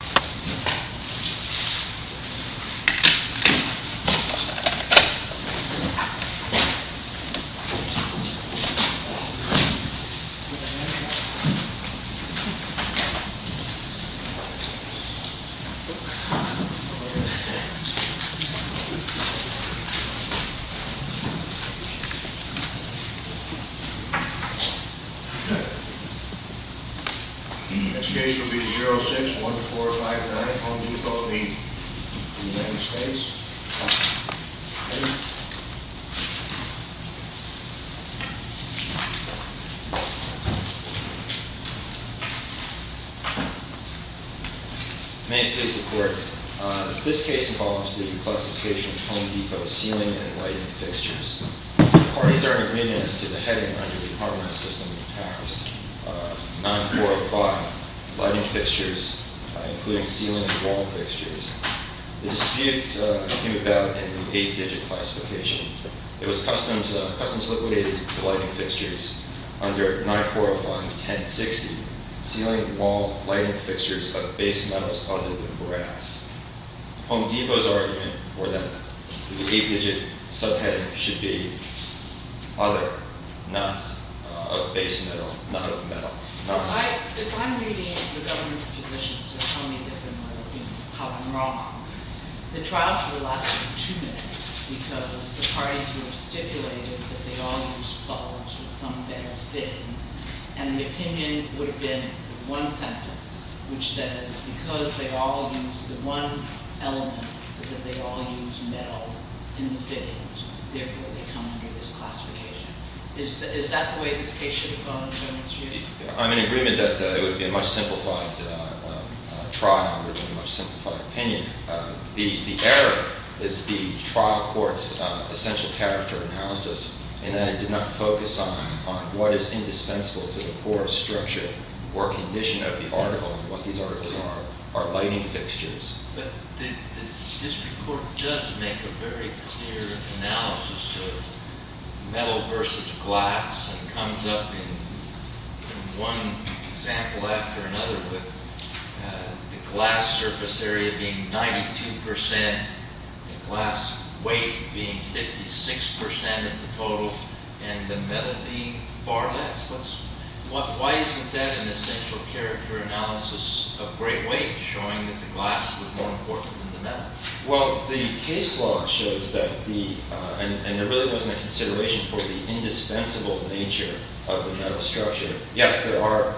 United States Department of Veterans Affairsituat $92,614.00 $945,000.00 Home Depot, the United States. May it please the Court, this case involves the classification of Home Depot ceiling and lighting fixtures. The parties are in agreement as to the heading under the Harmonized System Act, 9405, lighting fixtures, including ceiling and wall fixtures. The dispute came about in the 8-digit classification. It was customs liquidated the lighting fixtures under 9405, 1060, ceiling and wall lighting fixtures of base metals other than brass. Home Depot's argument was that the 8-digit subheading should be other, not of base metal, not of metal. If I'm reading the government's position, so tell me if I'm wrong. The trial should have lasted two minutes because the parties were stipulated that they all use metals with some metal fitting. And the opinion would have been one sentence, which says because they all use the one element, that they all use metal in the fittings, therefore they come under this classification. Is that the way this case should have gone? I'm in agreement that it would be a much simplified trial with a much simplified opinion. The error is the trial court's essential character analysis in that it did not focus on what is indispensable to the core structure or condition of the article and what these articles are, are lighting fixtures. But the district court does make a very clear analysis of metal versus glass and comes up in one example after another with the glass surface area being 92%, the glass weight being 56% of the total, and the metal being far less. Why isn't that an essential character analysis of great weight showing that the glass was more important than the metal? Well, the case law shows that the, and there really wasn't a consideration for the indispensable nature of the metal structure. Yes, there are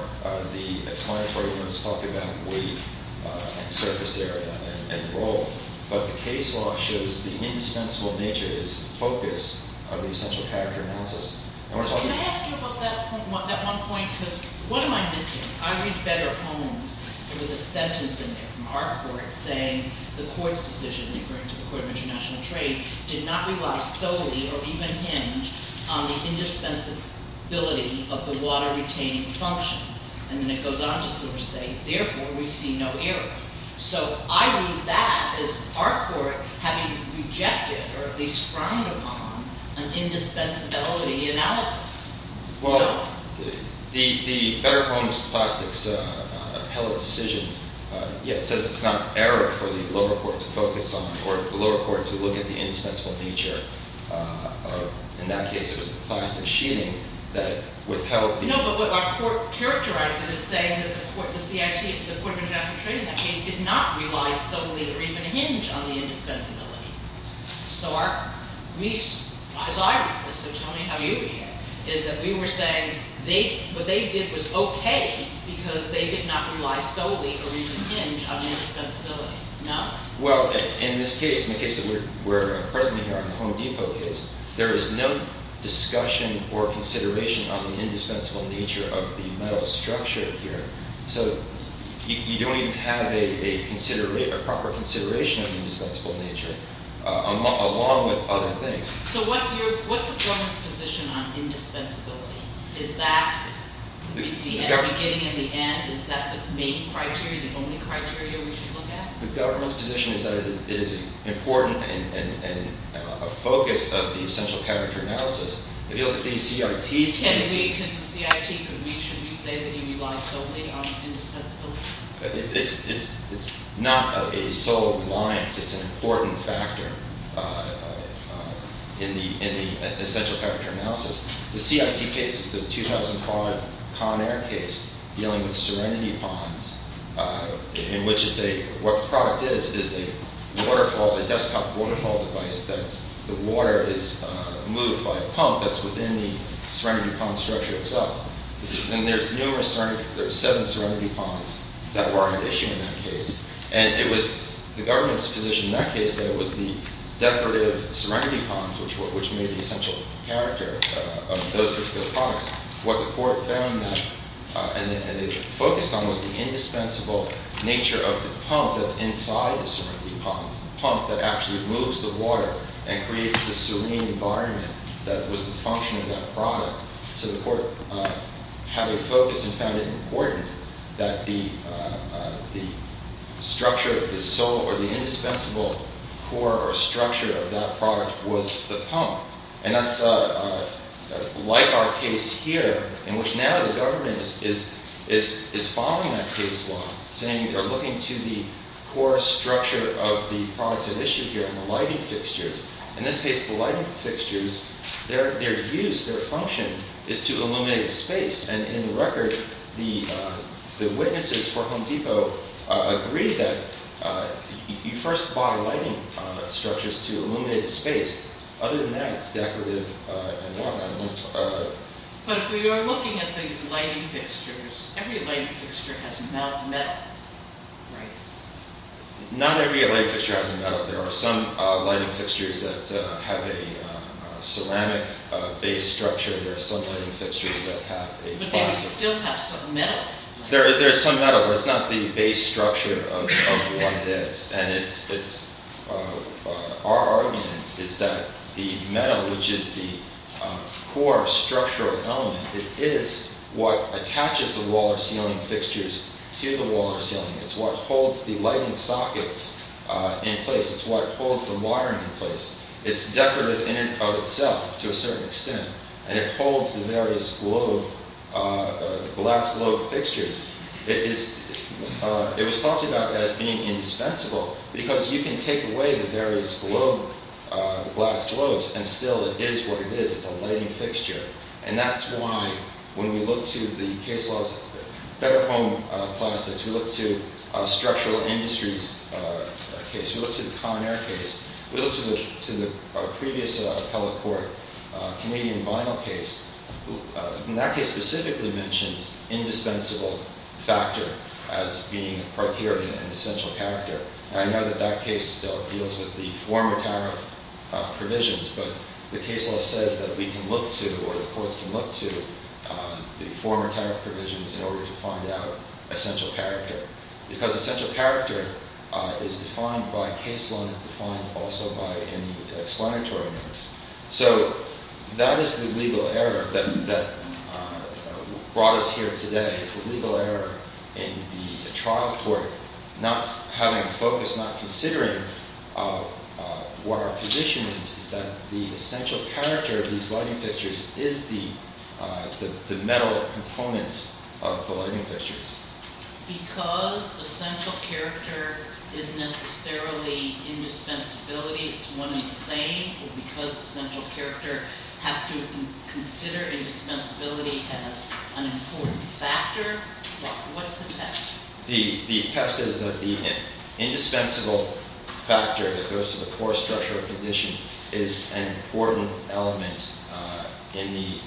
the explanatory words talk about weight and surface area and role, but the case law shows the indispensable nature is the focus of the essential character analysis. Can I ask you about that one point, because what am I missing? I read better poems with a sentence in there from our court saying the court's decision, according to the court of international trade, did not rely solely or even hinge on the indispensability of the water retaining function. And then it goes on to sort of say, therefore we see no error. So I read that as our court having rejected or at least frowned upon an indispensability analysis. Well, the better poems with plastics appellate decision says it's not error for the lower court to focus on or the lower court to look at the indispensable nature. In that case, it was the plastic sheeting that withheld. No, but what our court characterized it as saying that the court of international trade in that case did not rely solely or even hinge on the indispensability. So our, as I read this, so tell me how you read it, is that we were saying what they did was okay because they did not rely solely or even hinge on the indispensability. Well, in this case, in the case that we're presently here on the Home Depot case, there is no discussion or consideration on the indispensable nature of the metal structure here. So you don't even have a proper consideration of the indispensable nature along with other things. So what's the government's position on indispensability? Is that the beginning and the end? Is that the main criteria, the only criteria we should look at? The government's position is that it is important and a focus of the essential character analysis. If you look at the CIT's cases- Can we, can the CIT, can we, should we say that you rely solely on indispensability? It's not a sole reliance, it's an important factor in the essential character analysis. The CIT case is the 2005 Conair case dealing with serenity ponds in which it's a, what the product is, is a waterfall, a desktop waterfall device that's, the water is moved by a pump that's within the serenity pond structure itself. And there's numerous serenity, there's seven serenity ponds that were at issue in that case. And it was the government's position in that case that it was the decorative serenity ponds which made the essential character of those particular products. What the court found that, and it focused on was the indispensable nature of the pump that's inside the serenity ponds, the pump that actually moves the water and creates the serene environment that was the function of that product. So the court had a focus and found it important that the structure, the sole or the indispensable core or structure of that product was the pump. And that's like our case here in which now the government is following that case law, saying they're looking to the core structure of the products at issue here and the lighting fixtures. In this case, the lighting fixtures, their use, their function is to illuminate a space and in the record, the witnesses for Home Depot agreed that you first buy lighting structures to illuminate a space. Other than that, it's decorative and whatnot. But if we are looking at the lighting fixtures, every lighting fixture has a metal, right? Not every lighting fixture has a metal. There are some lighting fixtures that have a ceramic base structure. There are some lighting fixtures that have a plastic. But they still have some metal? There's some metal, but it's not the base structure of what it is. Our argument is that the metal, which is the core structural element, it is what attaches the wall or ceiling fixtures to the wall or ceiling. It's what holds the lighting sockets in place. It's what holds the wiring in place. It's decorative in and of itself to a certain extent. And it holds the various glass globe fixtures. It was talked about as being indispensable because you can take away the various glass globes and still it is what it is. It's a lighting fixture. And that's why when we look to the case laws, better home plastics, we look to structural industries case, we look to the Conair case. We look to the previous appellate court, Canadian Vinyl case. And that case specifically mentions indispensable factor as being a criteria and an essential character. And I know that that case deals with the former tariff provisions. But the case law says that we can look to or the courts can look to the former tariff provisions in order to find out essential character. Because essential character is defined by case law and is defined also by explanatory notes. So that is the legal error that brought us here today. It's the legal error in the trial court not having a focus, not considering what our position is, is that the essential character of these lighting fixtures is the metal components of the lighting fixtures. Because essential character is necessarily indispensability, it's one and the same. Because essential character has to consider indispensability as an important factor, what's the test? The test is that the indispensable factor that goes to the poor structural condition is an important element in the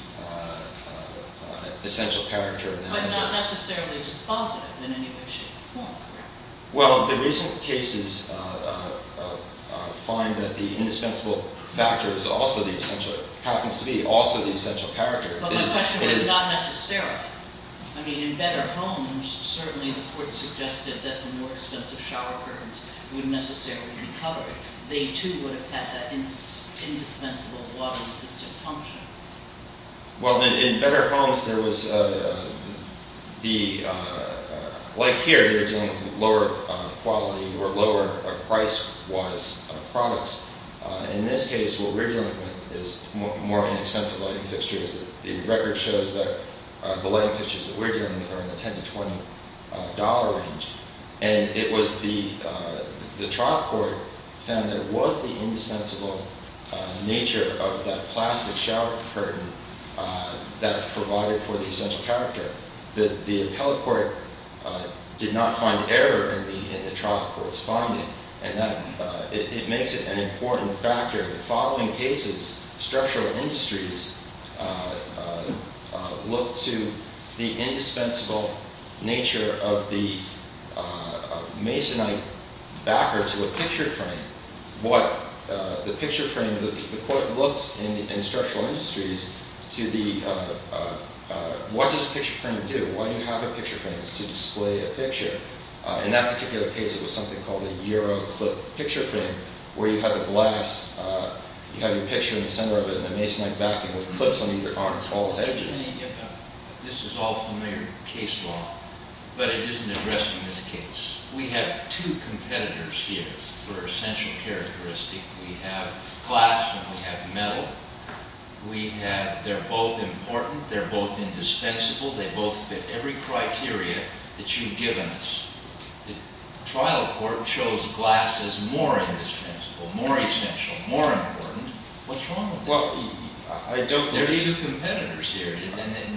essential character analysis. But not necessarily dispositive in any way, shape, or form. Well, the recent cases find that the indispensable factor happens to be also the essential character. But my question was not necessarily. I mean, in better homes, certainly the court suggested that the more expensive shower curtains would necessarily be covered. They too would have had that indispensable water-resistant function. Well, in better homes, like here, you're dealing with lower quality or lower price-wise products. In this case, what we're dealing with is more inexpensive lighting fixtures. The record shows that the lighting fixtures that we're dealing with are in the $10 to $20 range. The trial court found that it was the indispensable nature of that plastic shower curtain that provided for the essential character. The appellate court did not find error in the trial court's finding. It makes it an important factor. In the following cases, structural industries looked to the indispensable nature of the Masonite backer to a picture frame. The court looked in structural industries to what does a picture frame do? Why do you have a picture frame? It's to display a picture. In that particular case, it was something called a Euro clip picture frame, where you have the glass. You have your picture in the center of it in a Masonite backing with clips on either arm and all the edges. This is all familiar case law, but it isn't addressing this case. We have two competitors here for essential characteristic. We have glass and we have metal. They're both important. They're both indispensable. They both fit every criteria that you've given us. The trial court chose glass as more indispensable, more essential, more important. What's wrong with that? There are two competitors here.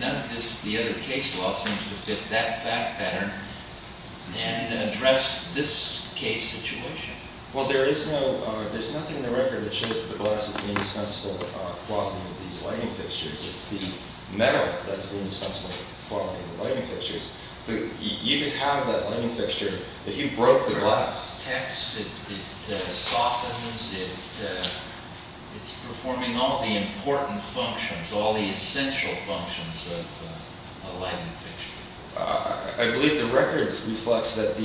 None of this, the other case law, seems to fit that fact pattern and address this case situation. Well, there's nothing in the record that shows that the glass is the indispensable quality of these lighting fixtures. It's the metal that's the indispensable quality of the lighting fixtures. You can have that lighting fixture, if you broke the glass. It protects, it softens, it's performing all the important functions, all the essential functions of a lighting fixture. I believe the record reflects that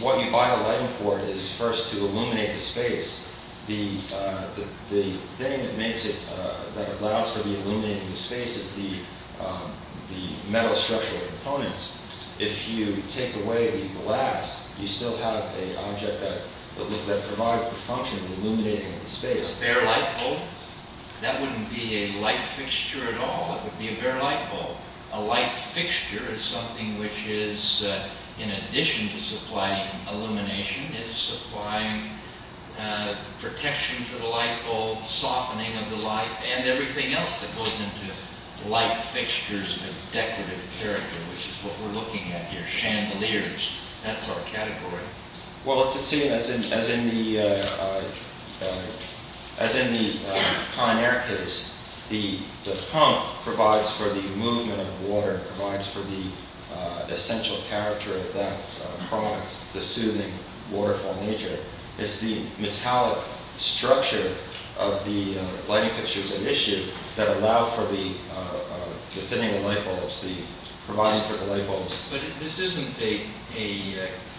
what you buy a lighting for is first to illuminate the space. The thing that makes it, that allows for the illuminating of the space is the metal structural components. If you take away the glass, you still have an object that provides the function of illuminating the space. A bare light bulb, that wouldn't be a light fixture at all. It would be a bare light bulb. A light fixture is something which is, in addition to supplying illumination, is supplying protection for the light bulb, softening of the light, and everything else that goes into light fixtures of decorative character, which is what we're looking at here, chandeliers. That's our category. As in the Conair case, the pump provides for the movement of water, provides for the essential character of that product, the soothing, waterfall nature. It's the metallic structure of the lighting fixture that allow for the thinning of light bulbs, provides for the light bulbs. But this isn't a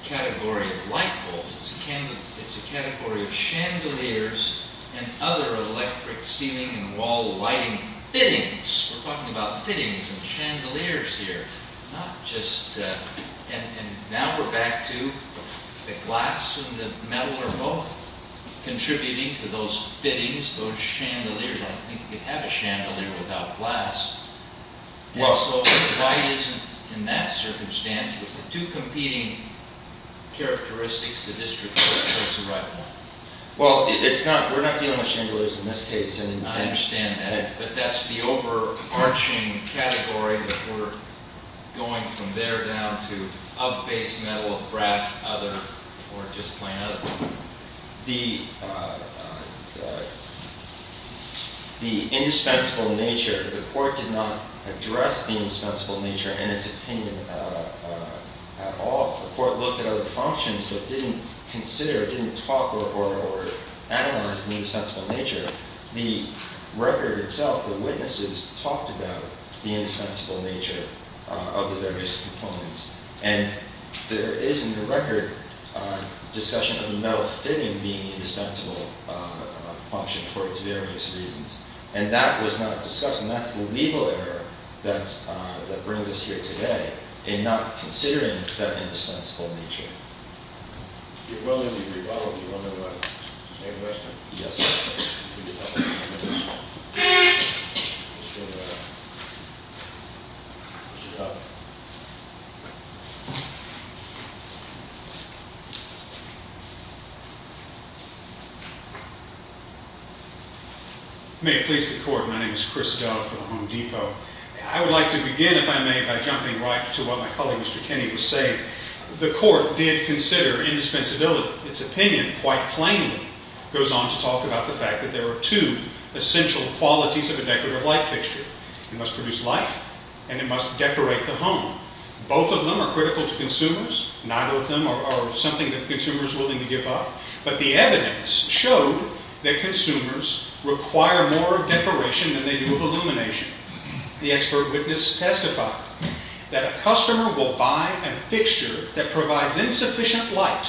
category of light bulbs. It's a category of chandeliers and other electric ceiling and wall lighting fittings. We're talking about fittings and chandeliers here. Now we're back to the glass and the metal are both contributing to those fittings, those chandeliers. I don't think you could have a chandelier without glass. The light isn't in that circumstance. It's the two competing characteristics of the district. Well, we're not dealing with chandeliers in this case, and I understand that. But that's the overarching category that we're going from there down to of base metal, of brass, other, or just plain other. The indispensable nature, the court did not address the indispensable nature in its opinion at all. The court looked at other functions but didn't consider, didn't talk or analyze the indispensable nature. The record itself, the witnesses talked about the indispensable nature of the various components. And there is in the record a discussion of the metal fitting being the indispensable function for its various reasons. And that was not discussed, and that's the legal error that brings us here today in not considering that indispensable nature. If you're willing to rebuttal, do you want to make a question? Yes. We need help. May it please the court, my name is Chris Dove for the Home Depot. I would like to begin, if I may, by jumping right to what my colleague, Mr. Kenny, was saying. The court did consider indispensability. Its opinion, quite plainly, goes on to talk about the fact that there are two essential qualities of a decorative light fixture. It must produce light and it must decorate the home. Both of them are critical to consumers. Neither of them are something that the consumer is willing to give up. But the evidence showed that consumers require more decoration than they do of illumination. The expert witness testified that a customer will buy a fixture that provides insufficient light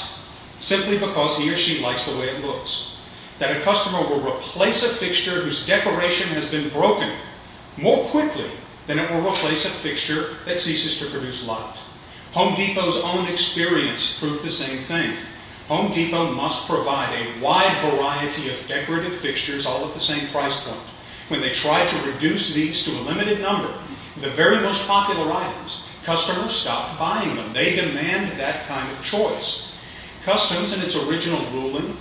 simply because he or she likes the way it looks. That a customer will replace a fixture whose decoration has been broken more quickly than it will replace a fixture that ceases to produce light. Home Depot's own experience proved the same thing. Home Depot must provide a wide variety of decorative fixtures all at the same price point. When they try to reduce these to a limited number, the very most popular items, customers stop buying them. They demand that kind of choice. Customs, in its original ruling,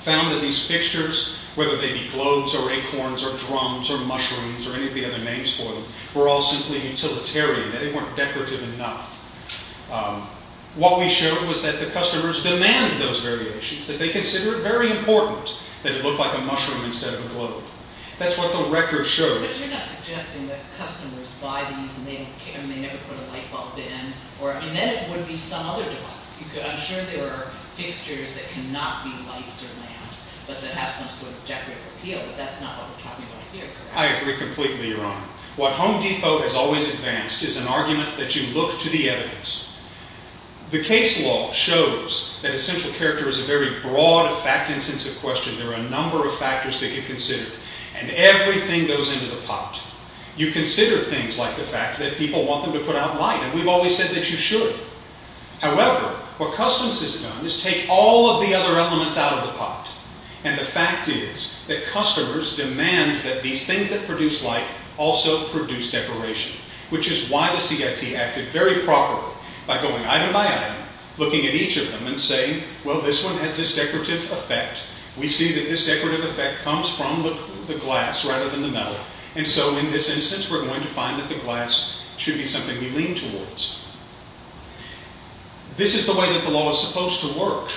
found that these fixtures, whether they be globes or acorns or drums or mushrooms or any of the other names for them, were all simply utilitarian. They weren't decorative enough. What we showed was that the customers demand those variations, that they consider it very important that it look like a mushroom instead of a globe. That's what the record shows. But you're not suggesting that customers buy these and they never put a light bulb in, and then it would be some other device. I'm sure there are fixtures that cannot be lights or lamps, but that have some sort of decorative appeal, but that's not what we're talking about here, correct? I agree completely, Your Honor. What Home Depot has always advanced is an argument that you look to the evidence. The case law shows that essential character is a very broad and fact-intensive question. There are a number of factors that get considered, and everything goes into the pot. You consider things like the fact that people want them to put out light, and we've always said that you should. However, what Customs has done is take all of the other elements out of the pot, and the fact is that customers demand that these things that produce light also produce decoration, which is why the CIT acted very properly by going item by item, looking at each of them and saying, well, this one has this decorative effect. We see that this decorative effect comes from the glass rather than the metal, and so in this instance we're going to find that the glass should be something we lean towards. This is the way that the law is supposed to work.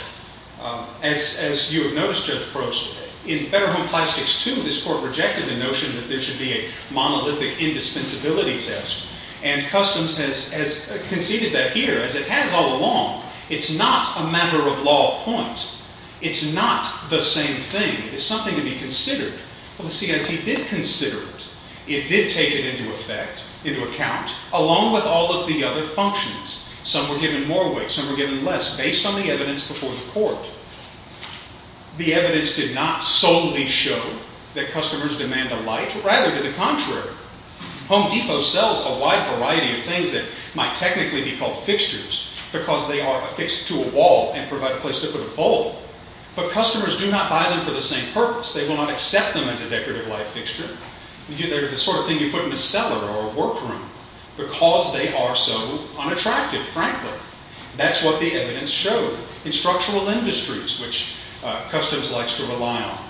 As you have noticed, Judge Gross, in Better Home Plastics 2, this court rejected the notion that there should be a monolithic indispensability test, and Customs has conceded that here, as it has all along. It's not a matter of law of point. It's not the same thing. It's something to be considered. Well, the CIT did consider it. It did take it into effect, into account, along with all of the other functions. Some were given more weight. Some were given less, based on the evidence before the court. The evidence did not solely show that customers demand a light. Rather, to the contrary, Home Depot sells a wide variety of things that might technically be called fixtures because they are affixed to a wall and provide a place to put a pole, but customers do not buy them for the same purpose. They will not accept them as a decorative light fixture. They're the sort of thing you put in a cellar or a workroom because they are so unattractive, frankly. That's what the evidence showed in structural industries, which Customs likes to rely on.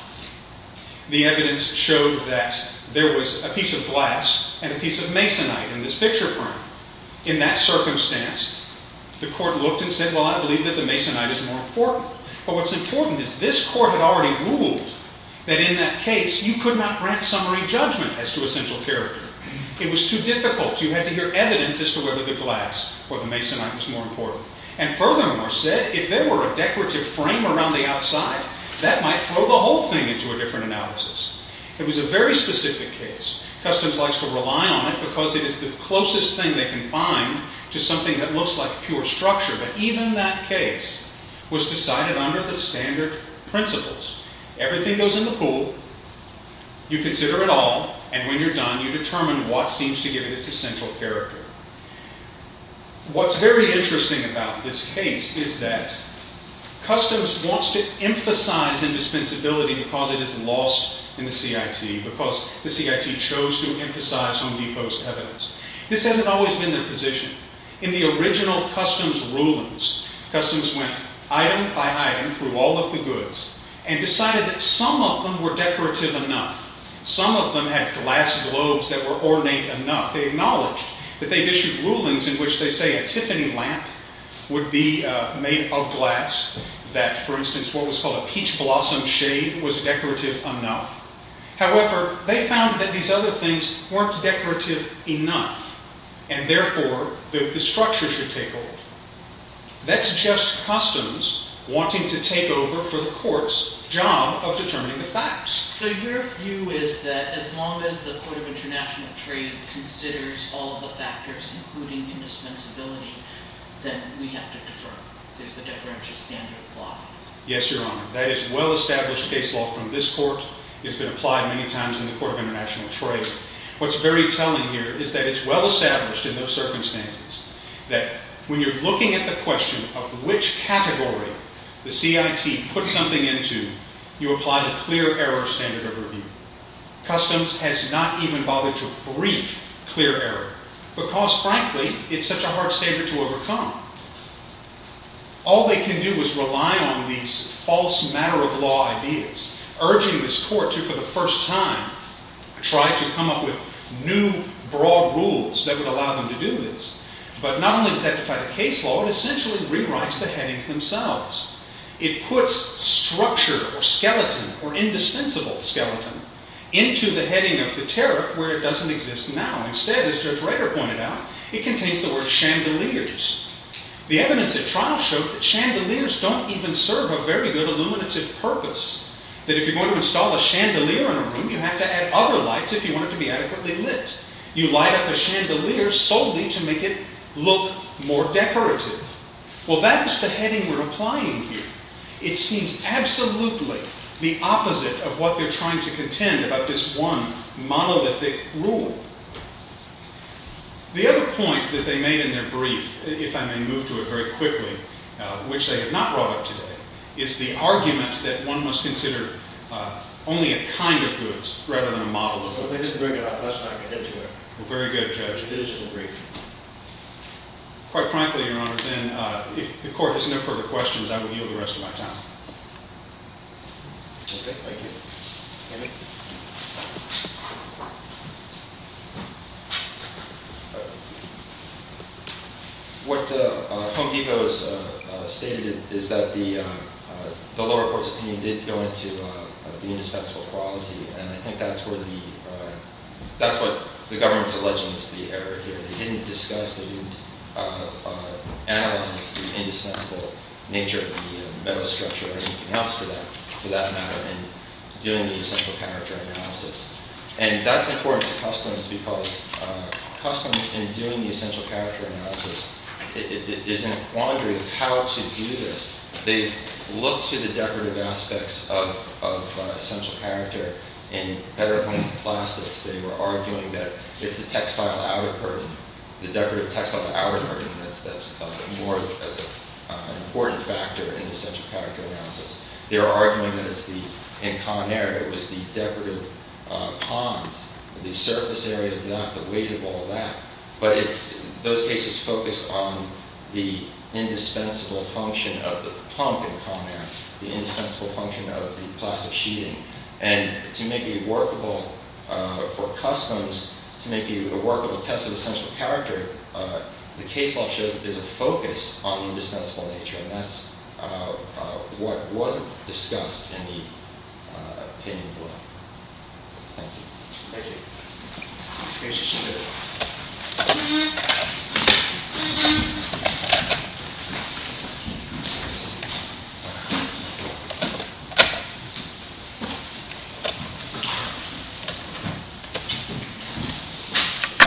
The evidence showed that there was a piece of glass and a piece of masonite in this picture frame. In that circumstance, the court looked and said, Well, I believe that the masonite is more important. But what's important is this court had already ruled that in that case you could not grant summary judgment as to essential character. It was too difficult. You had to hear evidence as to whether the glass or the masonite was more important. And furthermore said, if there were a decorative frame around the outside, that might throw the whole thing into a different analysis. It was a very specific case. Customs likes to rely on it because it is the closest thing they can find to something that looks like pure structure. But even that case was decided under the standard principles. Everything goes in the pool. You consider it all. And when you're done, you determine what seems to give it its essential character. What's very interesting about this case is that Customs wants to emphasize indispensability because it is lost in the CIT, because the CIT chose to emphasize Home Depot's evidence. This hasn't always been their position. In the original Customs rulings, Customs went item by item through all of the goods and decided that some of them were decorative enough. Some of them had glass globes that were ornate enough. They acknowledged that they'd issued rulings in which they say a Tiffany lamp would be made of glass, that, for instance, what was called a peach blossom shade was decorative enough. However, they found that these other things weren't decorative enough, and therefore the structure should take hold. That's just Customs wanting to take over for the court's job of determining the facts. So your view is that as long as the Court of International Trade considers all of the factors, including indispensability, then we have to defer. There's the deferential standard of law. Yes, Your Honor. That is well-established case law from this court. It's been applied many times in the Court of International Trade. What's very telling here is that it's well-established in those circumstances that when you're looking at the question of which category the CIT put something into, you apply the clear error standard of review. Customs has not even bothered to brief clear error because, frankly, it's such a hard standard to overcome. All they can do is rely on these false matter-of-law ideas, urging this court to, for the first time, try to come up with new broad rules that would allow them to do this. But not only does that define the case law, it essentially rewrites the headings themselves. It puts structure or skeleton or indispensable skeleton into the heading of the tariff where it doesn't exist now. Instead, as Judge Rader pointed out, it contains the word chandeliers. The evidence at trial showed that chandeliers don't even serve a very good illuminative purpose. That if you're going to install a chandelier in a room, you have to add other lights if you want it to be adequately lit. You light up a chandelier solely to make it look more decorative. Well, that's the heading we're applying here. It seems absolutely the opposite of what they're trying to contend about this one monolithic rule. The other point that they made in their brief, if I may move to it very quickly, which they have not brought up today, is the argument that one must consider only a kind of goods rather than a model of goods. Well, they didn't bring it up. Let's not get into it. Well, very good, Judge. It is in the brief. Quite frankly, Your Honor, then if the court has no further questions, I will yield the rest of my time. Okay. Thank you. David? What Home Depot has stated is that the lower court's opinion did go into the indispensable quality, and I think that's what the government's alleging is the error here. They didn't discuss and analyze the indispensable nature of the metal structure or anything else for that matter in doing the essential character analysis. And that's important to Customs because Customs, in doing the essential character analysis, is in a quandary of how to do this. They've looked to the decorative aspects of essential character in better home plastics. They were arguing that it's the textile outer curtain, the decorative textile outer curtain, that's an important factor in the essential character analysis. They were arguing that in Conair it was the decorative cons, the surface area, not the weight of all that. But those cases focused on the indispensable function of the pump in Conair, the indispensable function of the plastic sheeting. And to make it workable for Customs, to make it a workable test of essential character, the case law shows that there's a focus on the indispensable nature, and that's what wasn't discussed in the opinion below. Thank you. Thank you.